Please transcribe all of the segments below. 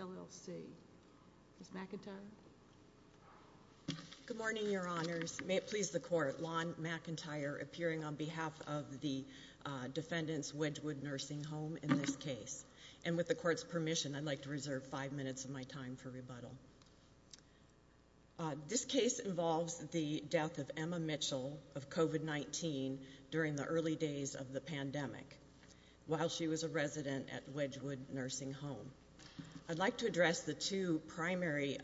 LLC. Ms. McIntyre? Good morning, Your Honors. May it please the Court, Lon McIntyre, appearing on behalf of the defendant's Wedgwood Nursing Home in this case. And with the Court's permission, I'd like to reserve five minutes of my time for rebuttal. This case involves the death of Emma Mitchell of COVID-19 during the early days of the pandemic while she was a resident at Wedgwood Nursing Home. I'd like to address the two primary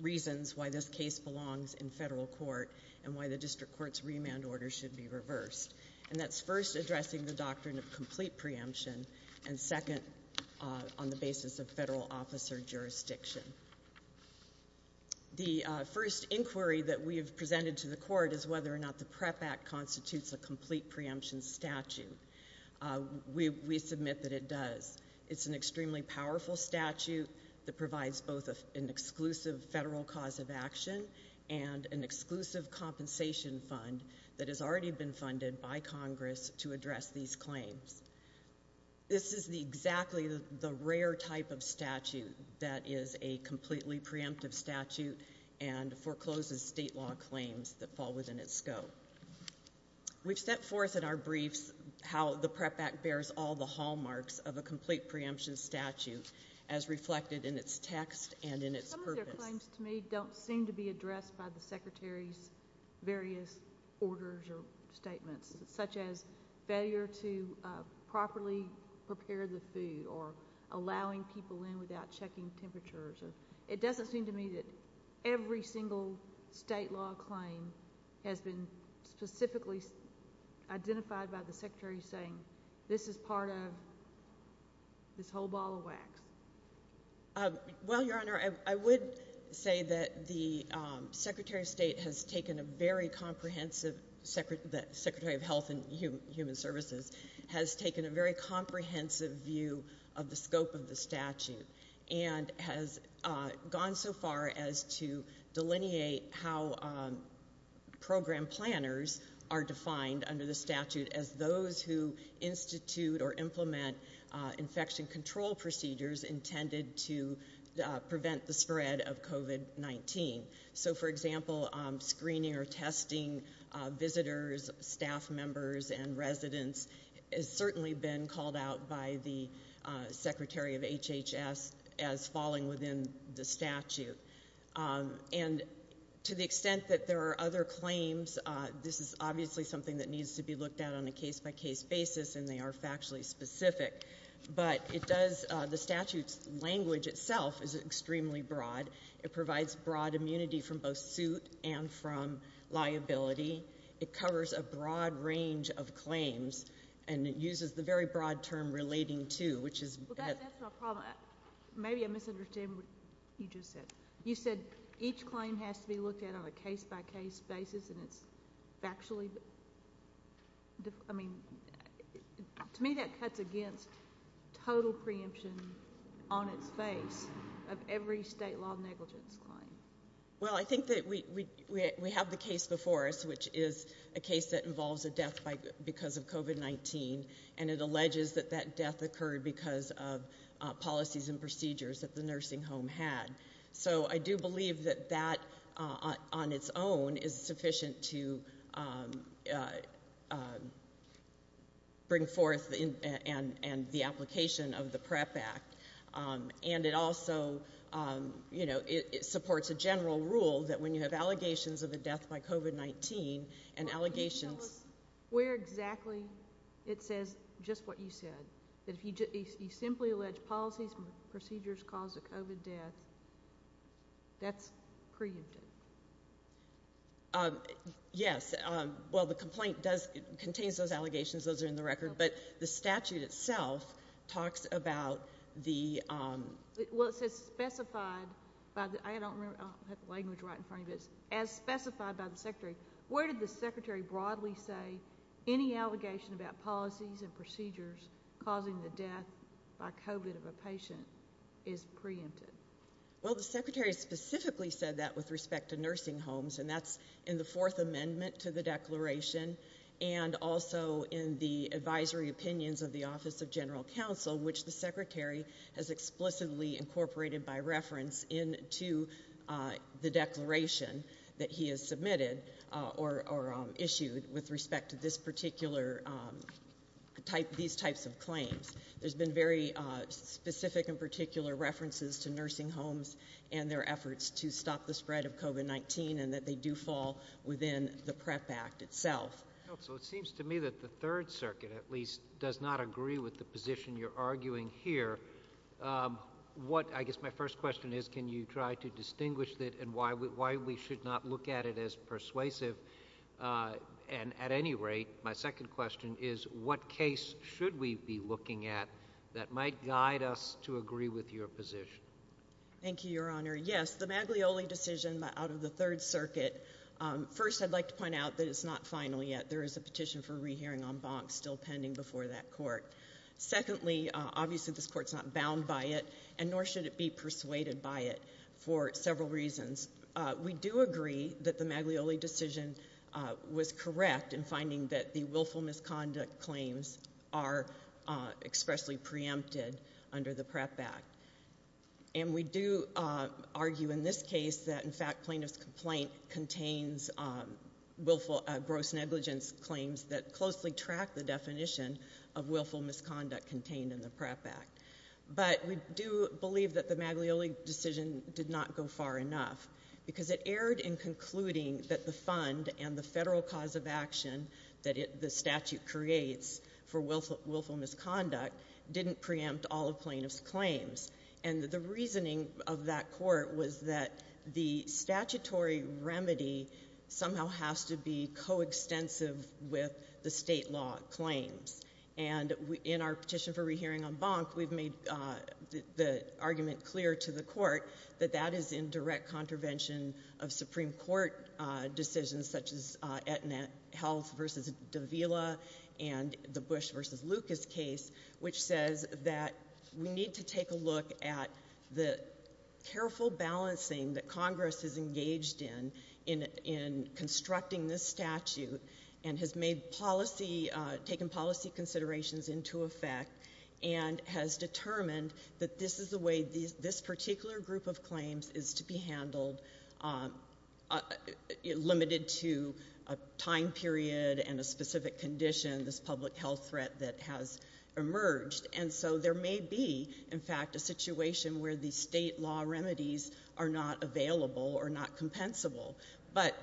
reasons why this case belongs in federal court and why the District Court's remand order should be reversed. And that's first addressing the doctrine of complete preemption, and second, on the basis of federal officer jurisdiction. The first inquiry that we have presented to the Court is whether or not the PREP Act constitutes a complete preemption statute. We submit that it does. It's an extremely powerful statute that provides both an exclusive federal cause of action and an exclusive compensation fund that has already been funded by Congress to address these claims. This is exactly the rare type of statute that is a completely preemptive statute and forecloses state law claims that fall within its scope. We've set forth in our briefs how the PREP Act bears all the hallmarks of a complete preemption statute as reflected in its text and in its purpose. Some of their claims to me don't seem to be there to properly prepare the food or allowing people in without checking temperatures. It doesn't seem to me that every single state law claim has been specifically identified by the Secretary saying, this is part of this whole ball of wax. Well, Your Honor, I would say that the Secretary of State has taken a very comprehensive, the Secretary of Health and Human Services has taken a very comprehensive view of the scope of the statute and has gone so far as to delineate how program planners are defined under the statute as those who institute or implement infection control procedures intended to prevent the spread of COVID-19. So for example, screening or testing visitors, staff members, and residents has certainly been called out by the Secretary of HHS as falling within the statute. And to the extent that there are other claims, this is obviously something that needs to be looked at on a case-by-case basis and they are factually specific, but it does, the statute's language itself is extremely broad. It provides broad immunity from both suit and from liability. It covers a broad range of claims and it uses the very broad term, relating to, which is that... Well, that's my problem. Maybe I'm misunderstanding what you just said. You said each claim has to be looked at on a case-by-case basis and it's factually, I mean, to me that cuts against total preemption on its face of every state law negligence claim. Well, I think that we have the case before us, which is a case that involves a death because of COVID-19 and it alleges that that death occurred because of policies and procedures that the nursing home had. So I do believe that that on its own is sufficient to bring forth and the application of the PREP Act. And it also, you know, it supports a general rule that when you have allegations of a death by COVID-19 and allegations... Can you tell us where exactly it says just what you said? That if you simply allege policies and procedures caused a COVID death, that's preempted? Yes. Well, the complaint does contain those allegations. Those are in the record, but the statute itself talks about the... Well, it says specified by the... I don't remember. I'll have the language right in front of it. As specified by the secretary, where did the secretary broadly say any allegation about policies and procedures causing the death by COVID of a patient is preempted? Well, the secretary specifically said that with respect to nursing homes, and that's in the fourth amendment to the declaration and also in the advisory opinions of the Office of General Counsel, which the secretary has explicitly incorporated by reference into the declaration that he has submitted or issued with respect to these types of claims. There's been very specific and particular references to nursing homes and their efforts to stop the spread of COVID-19 and that they do fall within the PrEP Act itself. So it seems to me that the third circuit, at least, does not agree with the position you're arguing here. What, I guess my first question is, can you try to distinguish that and why we should not look at it as persuasive? And at any rate, my second question is, what case should we be looking at that might guide us to agree with your position? Thank you, Your Honor. Yes, the Maglioli decision out of the third circuit. First, I'd like to point out that it's not final yet. There is a petition for re-hearing en banc still pending before that court. Secondly, obviously this court's not bound by it and nor should it be persuaded by it for several reasons. We do agree that the Maglioli decision was not final. We do believe that the Maglioli decision did not go far enough because it for willful misconduct, didn't preempt all of plaintiff's claims. And the reasoning of that court was that the statutory remedy somehow has to be coextensive with the state law claims. And in our petition for re-hearing en banc, we've made the argument clear to the court that that is in direct contravention of Supreme Court decisions such as Aetna Health versus Davila and the Bush versus Lucas case, which says that we need to take a look at the careful balancing that Congress has engaged in in constructing this statute and has made policy – taken policy considerations into effect and has determined that this is the way this specific condition, this public health threat that has emerged. And so there may be in fact a situation where the state law remedies are not available or not compensable. But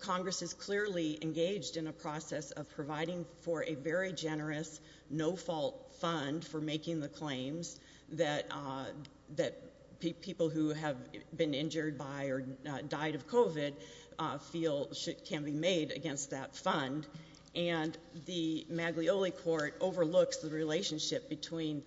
Congress is clearly engaged in a process of providing for a very generous, no-fault fund for making the claims that people who have been injured by or died of COVID feel can be made against that fund. And the Maglioli Court overlooks the relationship between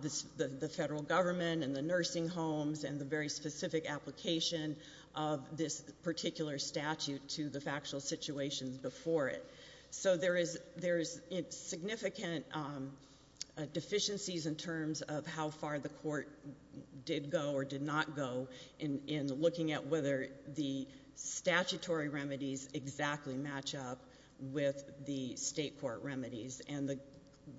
the Federal Government and the nursing homes and the very specific application of this particular statute to the factual situations before it. So there is – there is significant deficiencies in terms of how far the court did go or did not go in looking at whether the statutory remedies exactly match up with the state court remedies. And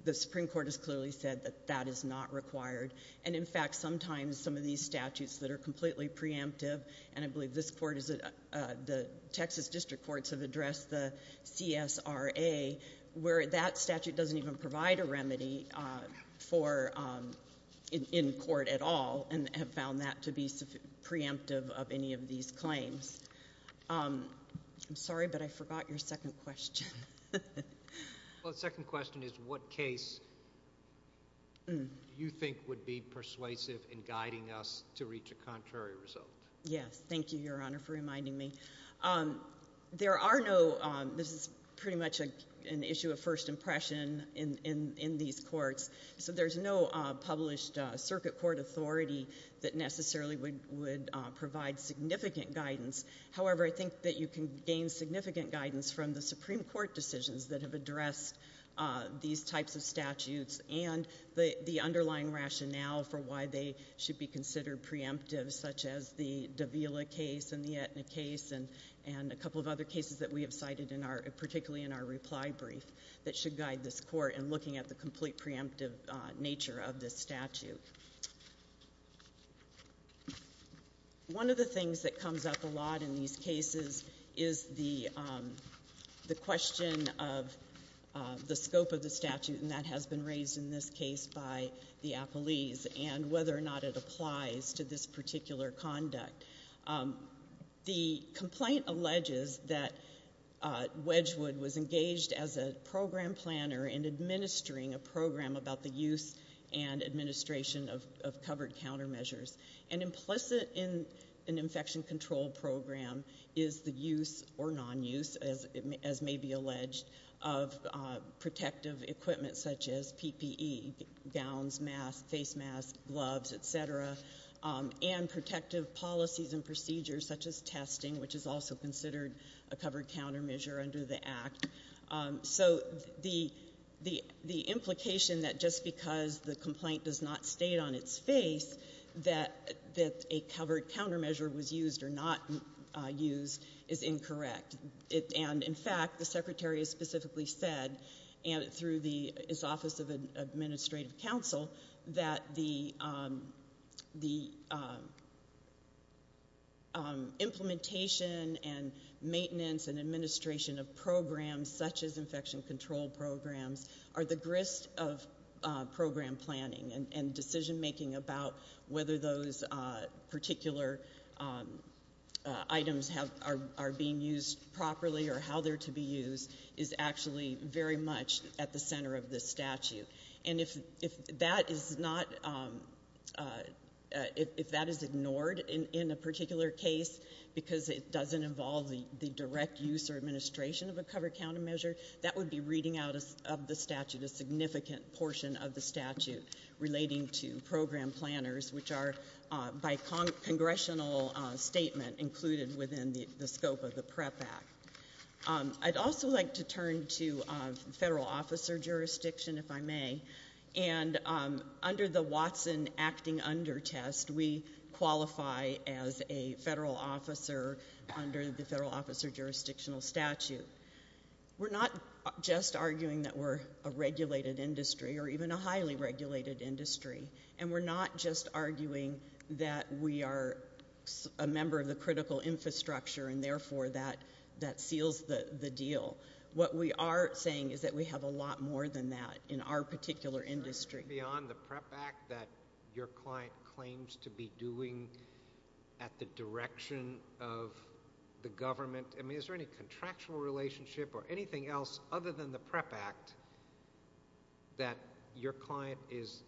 the Supreme Court has clearly said that that is not required. And in fact sometimes some of these statutes that are completely preemptive – and I believe this court is – the Texas District Courts have addressed the CSRA where that statute doesn't even provide a remedy for – in court at all and have found that to be preemptive of any of these claims. I'm sorry, but I forgot your second question. Well, the second question is, what case do you think would be persuasive in guiding us to reach a contrary result? Yes. Thank you, Your Honor, for reminding me. There are no – this is pretty much an issue of first impression in these courts. So there's no published circuit court authority that necessarily would provide significant guidance. However, I think that you can gain significant guidance from the Supreme Court decisions that have addressed these types of statutes and the underlying rationale for why they should be considered preemptive, such as the Davila case and the Aetna case and a couple of other cases that we have cited in our – particularly in our reply brief that should guide this court in looking at the complete preemptive nature of this statute. One of the things that comes up a lot in these cases is the question of the scope of the statute, and that has been raised in this case by the appellees, and whether or not it applies to this particular conduct. The complaint alleges that Wedgwood was engaged as a program planner in administering a program about the use and administration of covered countermeasures. And implicit in an infection control program is the use or nonuse, as may be alleged, of protective equipment such as PPE, gowns, masks, face masks, gloves, et cetera, and protective policies and procedures such as testing, which is also considered a covered countermeasure under the Act. So the – the implication that just because the complaint does not state on its face that – that a covered countermeasure was used or not used is incorrect. And, in fact, the Secretary has specifically said, and through the – his Office of Administrative Counsel, that the – the implementation and maintenance and administration of programs such as infection control programs are the items have – are being used properly or how they're to be used is actually very much at the center of this statute. And if that is not – if that is ignored in a particular case because it doesn't involve the direct use or administration of a covered countermeasure, that would be reading out of the statute a significant portion of the statute relating to program planners, which are, by congressional statement, included within the scope of the PREP Act. I'd also like to turn to federal officer jurisdiction, if I may. And under the Watson Acting Under Test, we qualify as a federal officer under the federal officer jurisdictional statute. We're not just arguing that we're a regulated industry or even a highly regulated industry. And we're not just arguing that we are a member of the critical infrastructure, and, therefore, that seals the deal. What we are saying is that we have a lot more than that in our particular industry. Beyond the PREP Act that your client claims to be doing at the direction of the government, I mean, is there any contractual relationship or anything else other than the PREP Act that your client is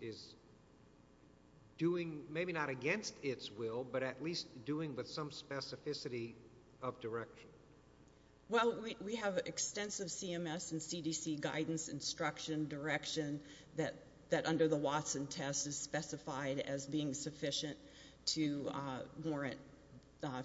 doing, maybe not against its will, but at least doing with some specificity of direction? Well, we have extensive CMS and CDC guidance, instruction, direction that under the Watson test is specified as being sufficient to warrant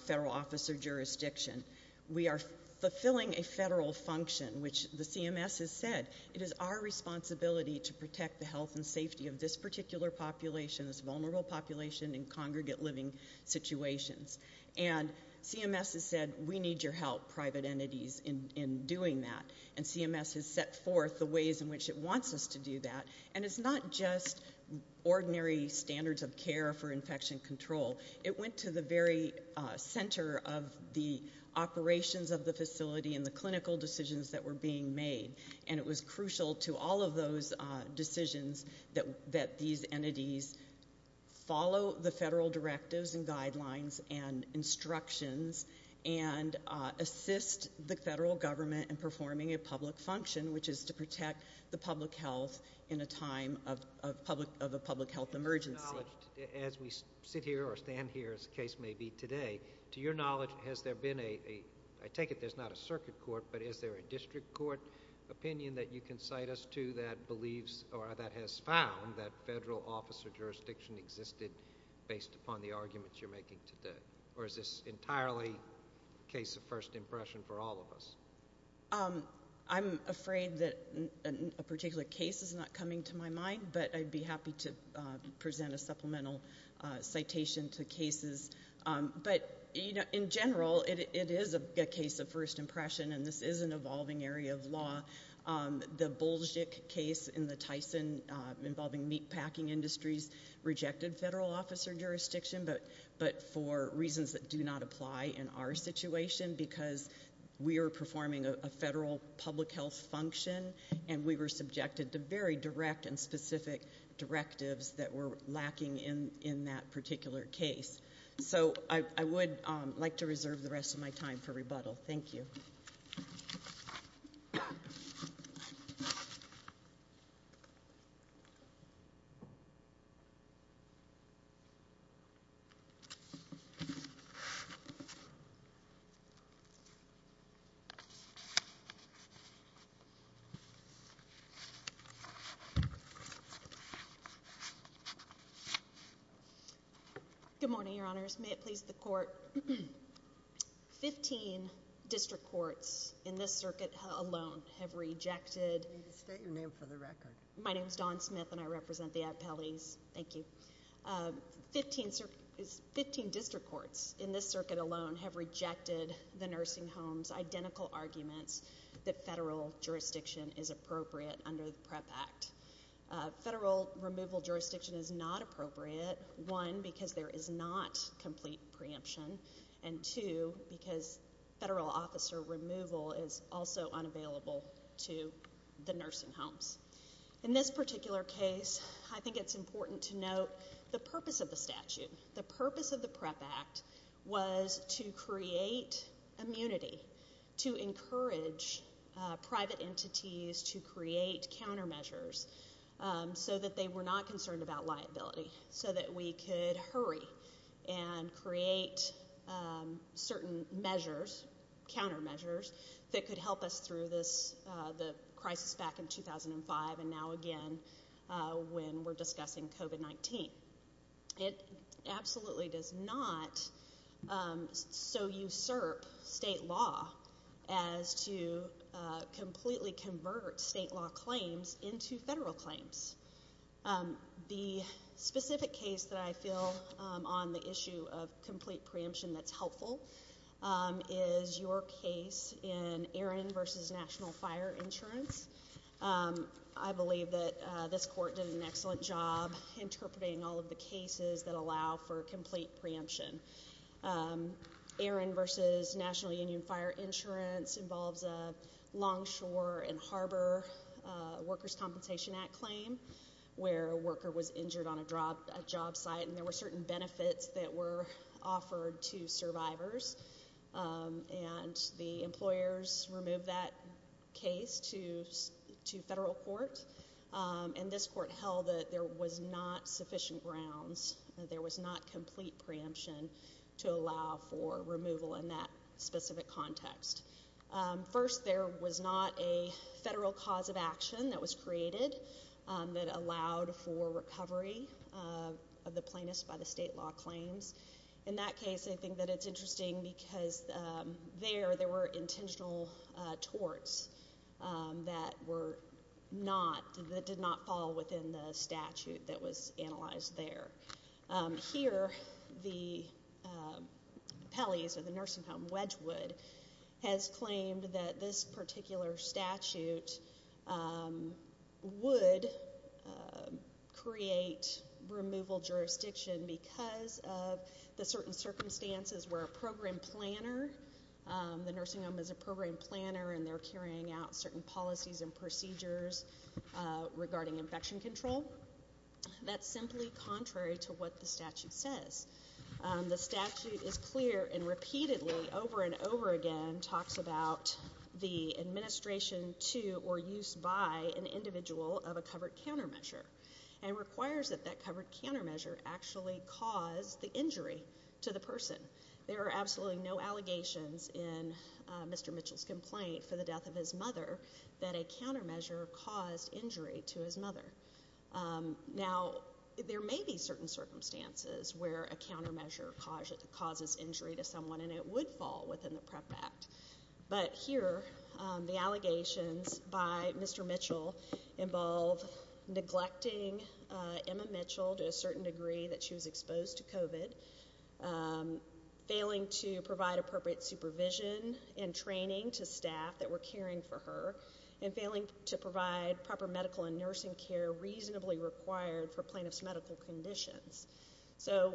federal officer jurisdiction. We are fulfilling a federal function, which the CMS has said, it is our responsibility to protect the health and safety of this particular population, this vulnerable population in congregate living situations. And CMS has said, we need your help, private entities, in doing that. And CMS has set forth the ways in which it wants us to do that. And it's not just ordinary standards of care for infection control. It went to the very center of the operations of the facility and the clinical decisions that were being made. And it was crucial to all of those decisions that these entities follow the federal directives and guidelines and instructions and assist the federal government in performing a public function, which is to protect the public health in a time of a public health emergency. To your knowledge, as we sit here or stand here, as the case may be today, to your knowledge, has there been a, I take it there's not a circuit court, but is there a district court opinion that you can cite us to that believes or that has found that federal officer jurisdiction existed based upon the arguments you're making today? Or is this entirely case of first impression for all of us? I'm afraid that a particular case is not coming to my mind, but I'd be happy to present a case. In general, it is a case of first impression, and this is an evolving area of law. The Bolzhik case in the Tyson involving meatpacking industries rejected federal officer jurisdiction, but for reasons that do not apply in our situation, because we are performing a federal public health function, and we were subjected to very direct and specific directives that were in place. I'm going to reserve the rest of my time for rebuttal. Thank you. Good morning, your honors. May it please the court. Fifteen district courts in this circuit alone have rejected the nursing home's identical arguments that federal jurisdiction is appropriate under the PREP Act. Federal removal jurisdiction is not appropriate, one, because there is not complete preemption, and two, because federal officer removal is also unavailable to the nursing homes. In this particular case, I think it's important to note the purpose of the statute. The purpose of the PREP Act was to create immunity, to encourage private entities to create countermeasures so that they were not concerned about liability, so that we could hurry and create certain measures, countermeasures, that could help us through the crisis back in 2005 and now again when we're discussing COVID-19. It absolutely does not so usurp state law as to completely convert state law claims into federal claims. The specific case that I feel on the issue of complete preemption that's helpful is your case in Aaron v. National Fire Insurance. I believe that this court did an excellent job interpreting all of the cases that allow for complete preemption. Aaron v. National Union Fire Insurance involves a Longshore and Harbor Workers' Compensation Act claim where a worker was injured on a job site, and there were certain benefits that were offered to survivors, and the employers removed that case to federal court, and this court held that there was not sufficient grounds, that there was not complete preemption to allow for removal in that specific context. First, there was not a federal cause of action that was created that allowed for recovery of the plaintiffs by the state law claims. In that case, I think that it's interesting because there, there were intentional torts that were not, that did not fall within the statute that was analyzed there. Here, the Pelley's, or the nursing home Wedgwood, has claimed that this particular statute would create removal jurisdiction because of the certain circumstances where a program planner, the nursing home is a program planner and they're carrying out certain policies and procedures regarding infection control. That's simply contrary to what the statute says. The statute is clear and repeatedly, over and over again, talks about the administration to or use by an individual of a covered countermeasure, and requires that that covered in Mr. Mitchell's complaint for the death of his mother, that a countermeasure caused injury to his mother. Now, there may be certain circumstances where a countermeasure causes injury to someone, and it would fall within the PREP Act, but here, the allegations by Mr. Mitchell involve neglecting Emma Mitchell to a certain degree that she was exposed to COVID, failing to provide appropriate supervision and training to staff that were caring for her, and failing to provide proper medical and nursing care reasonably required for plaintiff's medical conditions. So,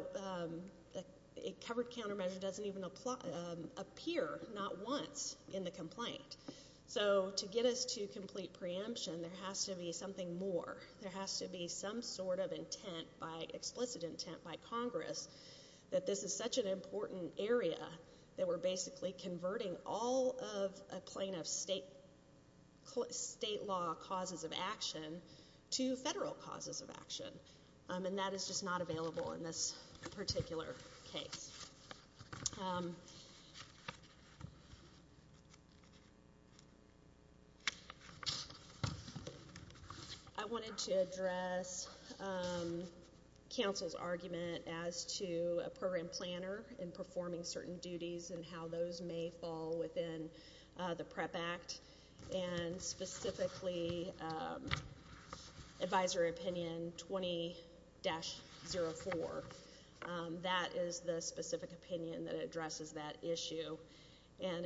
a covered countermeasure doesn't even appear, not once, in the complaint. So, to get us to complete preemption, there has to be something more. There has to be some sort of intent by explicit intent by Congress that this is such an important area that we're basically converting all of a plaintiff's state law causes of action to federal causes of action, and that is just not available in this particular case. I wanted to address counsel's argument as to a program planner and performing certain duties and how those may fall within the PREP Act, and specifically, Advisory Opinion 20-04. That is the specific opinion that addresses that issue, and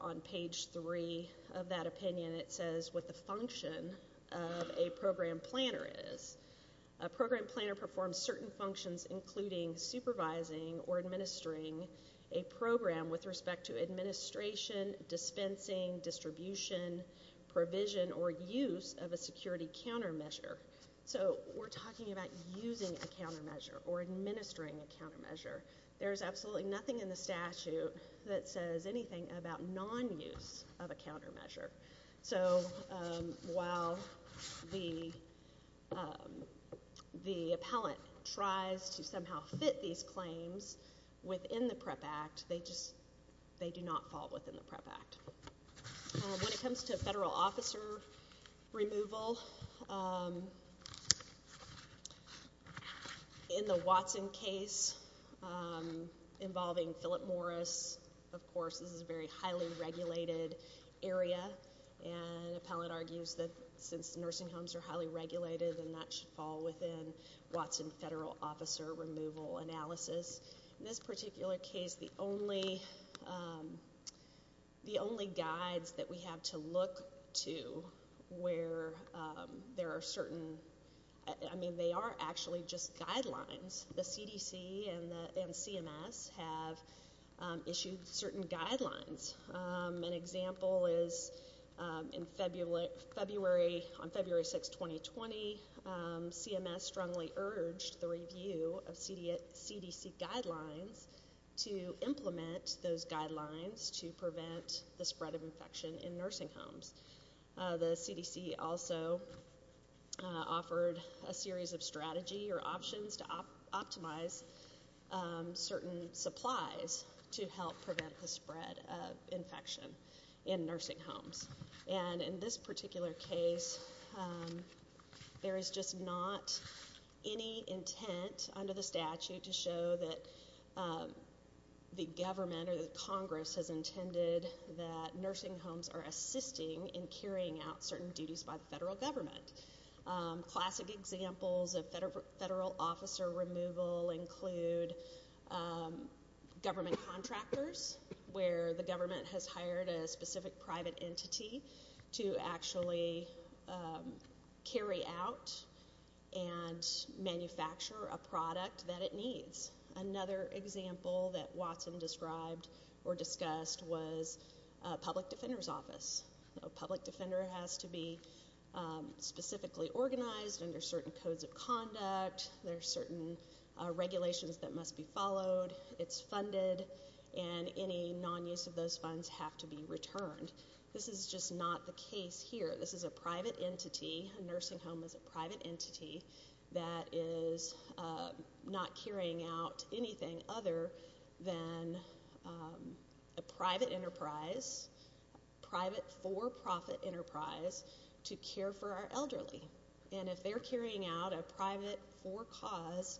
on page three of that opinion, it says what the function of a program planner is. A program planner performs certain functions, including supervising or administering a program with respect to administration, dispensing, distribution, provision, or use of a security countermeasure. So, we're talking about using a countermeasure or administering a countermeasure. There is absolutely nothing in the statute that says anything about non-use of a countermeasure. So, while the appellant tries to somehow fit these claims within the PREP Act, they do not fall within the PREP Act. When it comes to federal officer removal, in the Watson case involving Philip Morris, of course, this is a very highly regulated area, and the appellant argues that since nursing homes are highly regulated, then that should fall within Watson federal officer removal analysis. In this particular case, the only guides that we have to look to where there are certain, I mean, they are actually just guidelines. The CDC and CMS have issued certain guidelines. An example is in February, on February 6, 2020, CMS strongly urged the review of CDC guidelines to implement those guidelines to prevent the spread of infection in nursing homes. The CDC also offered a series of strategy or options to optimize certain supplies to help prevent the spread of infection in nursing homes. And in this particular case, there is just not any intent under the statute to show that the government or the Congress has intended that nursing homes are assisting in carrying out certain duties by the federal government. Classic examples of federal officer removal include government contractors, where the government has hired a specific private entity to actually carry out and manufacture a product that it needs. Another example that Watson described or discussed was a public defender's office. A public defender has to be specifically organized under certain codes of conduct. There are certain regulations that must be followed. It's funded, and any non-use of those funds have to be returned. This is just not the case here. This is a private entity, a nursing home is a private entity, that is not carrying out anything other than a private enterprise, a private for-profit enterprise to care for our elderly. And if they're carrying out a private for-cause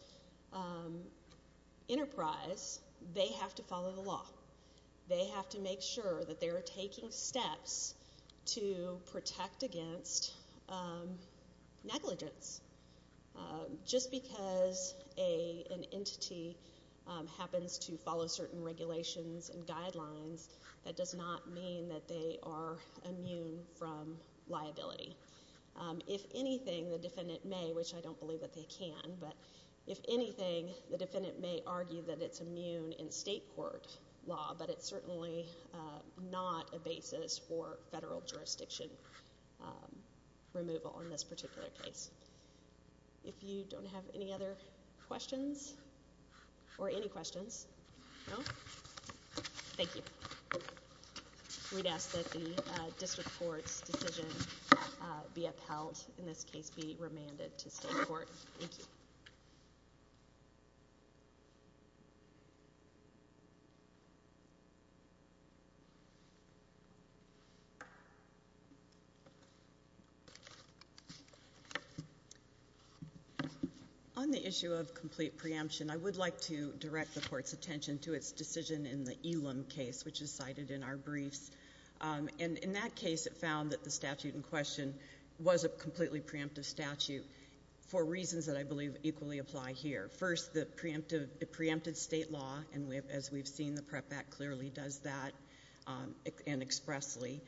enterprise, they have to follow the law. They have to make sure that they are taking steps to protect against negligence. Just because an entity happens to follow certain regulations and guidelines, that does not mean that they are immune from liability. If anything, the defendant may, which I don't believe that they can, but if anything, the defendant may argue that it's immune in state court law, but it's certainly not a basis for federal jurisdiction removal in this particular case. If you don't have any other questions, or any questions, no? Thank you. We'd ask that the district court's decision be upheld, in this case be remanded to state court. Thank you. On the issue of complete preemption, I would like to direct the Court's attention to its decision in the Elam case, which is cited in our briefs. And in that case, it found that the statute in question was a completely preemptive statute for reasons that I believe equally apply here. First, it preempted state law, and as we've seen, the PREP Act clearly does that, and expressly.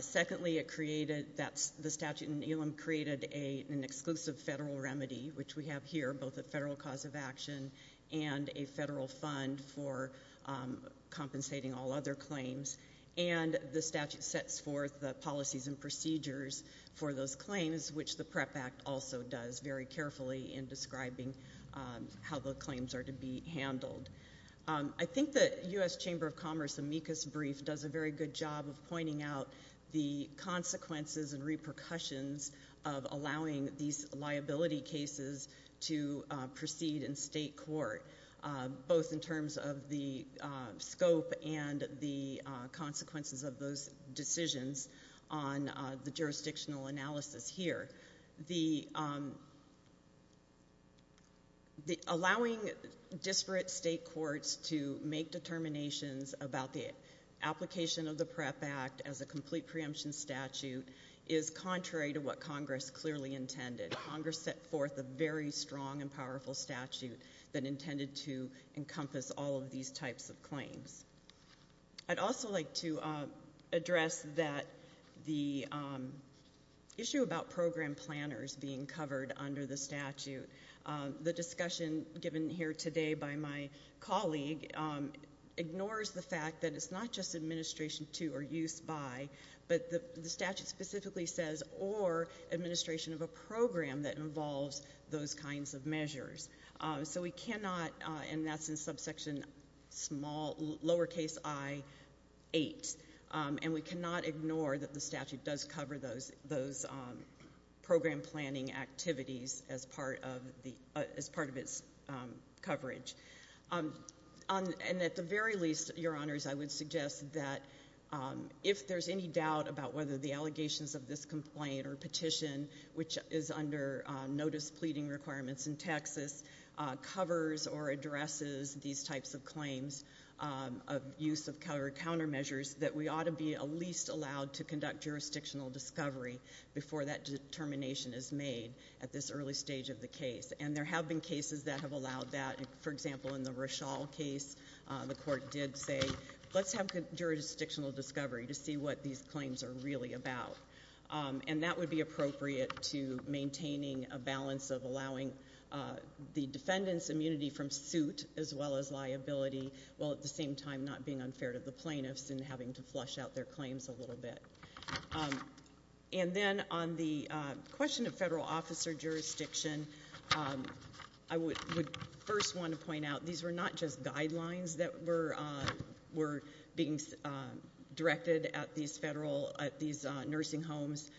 Secondly, it created that the statute in Elam created an exclusive federal remedy, which we have here, both a federal cause of action and a federal fund for compensating all other claims. And the statute sets forth the policies and procedures for those claims, which the PREP Act also does very carefully in describing how the claims are to be handled. I think the U.S. Chamber of Commerce amicus brief does a very good job of pointing out the consequences and repercussions of allowing these liability cases to proceed in state court, both in terms of the scope and the consequences of those decisions on the jurisdictional analysis here. The allowing disparate state courts to make determinations about the application of the PREP Act as a complete preemption statute is contrary to what Congress clearly intended. Congress set forth a very strong and powerful statute that intended to encompass all of these types of claims. I'd also like to address that the issue about program planners being covered under the statute, the discussion given here today by my colleague ignores the fact that it's not just administration to or use by, but the statute specifically says or administration of a program that involves those kinds of measures. So we cannot, and that's in subsection lowercase i8, and we cannot ignore that the statute does cover those program planning activities as part of its coverage. And at the very least, Your Honors, I would suggest that if there's any doubt about whether the allegations of this complaint or petition, which is under notice pleading requirements in Texas, covers or addresses these types of claims of use of covered countermeasures, that we ought to be at least allowed to conduct jurisdictional discovery before that determination is made at this early stage of the case. And there have been cases that have allowed that. For example, in the Rochelle case, the court did say, let's have jurisdictional discovery to see what these claims are really about. And that would be appropriate to maintaining a balance of allowing the defendant's immunity from suit as well as liability, while at the same time not being unfair to the plaintiffs and having to flush out their claims a little bit. And then on the question of federal officer jurisdiction, I would first want to point out, these were not just guidelines that were being directed at these nursing homes.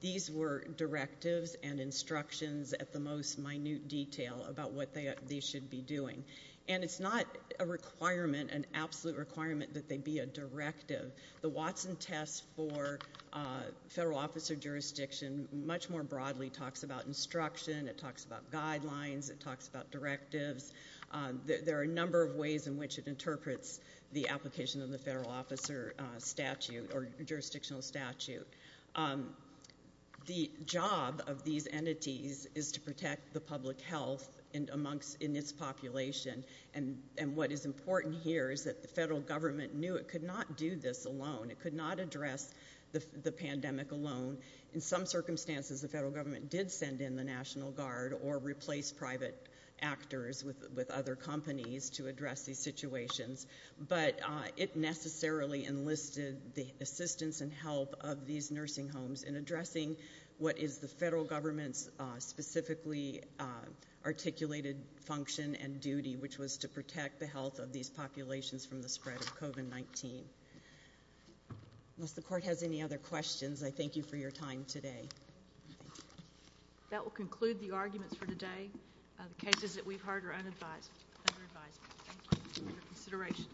These were directives and instructions at the most minute detail about what they should be doing. And it's not a requirement, an absolute requirement, that they be a directive. The Watson test for federal officer jurisdiction much more broadly talks about instruction. It talks about guidelines. It talks about directives. There are a number of ways in which it interprets the application of the federal officer statute or jurisdictional statute. The job of these entities is to protect the public health in its population. And what is important here is that the federal government knew it could not do this alone. It could not address the pandemic alone. In some circumstances, the federal government did send in the National Guard or replace private actors with other companies to address these situations, but it necessarily enlisted the assistance and help of these nursing homes in addressing what is the federal government's specifically articulated function and duty, which was to protect the health of these populations from the spread of COVID-19. Unless the court has any other questions, I thank you for your time today. That will conclude the arguments for today. The cases that we've heard are under advisement. Thank you for your consideration.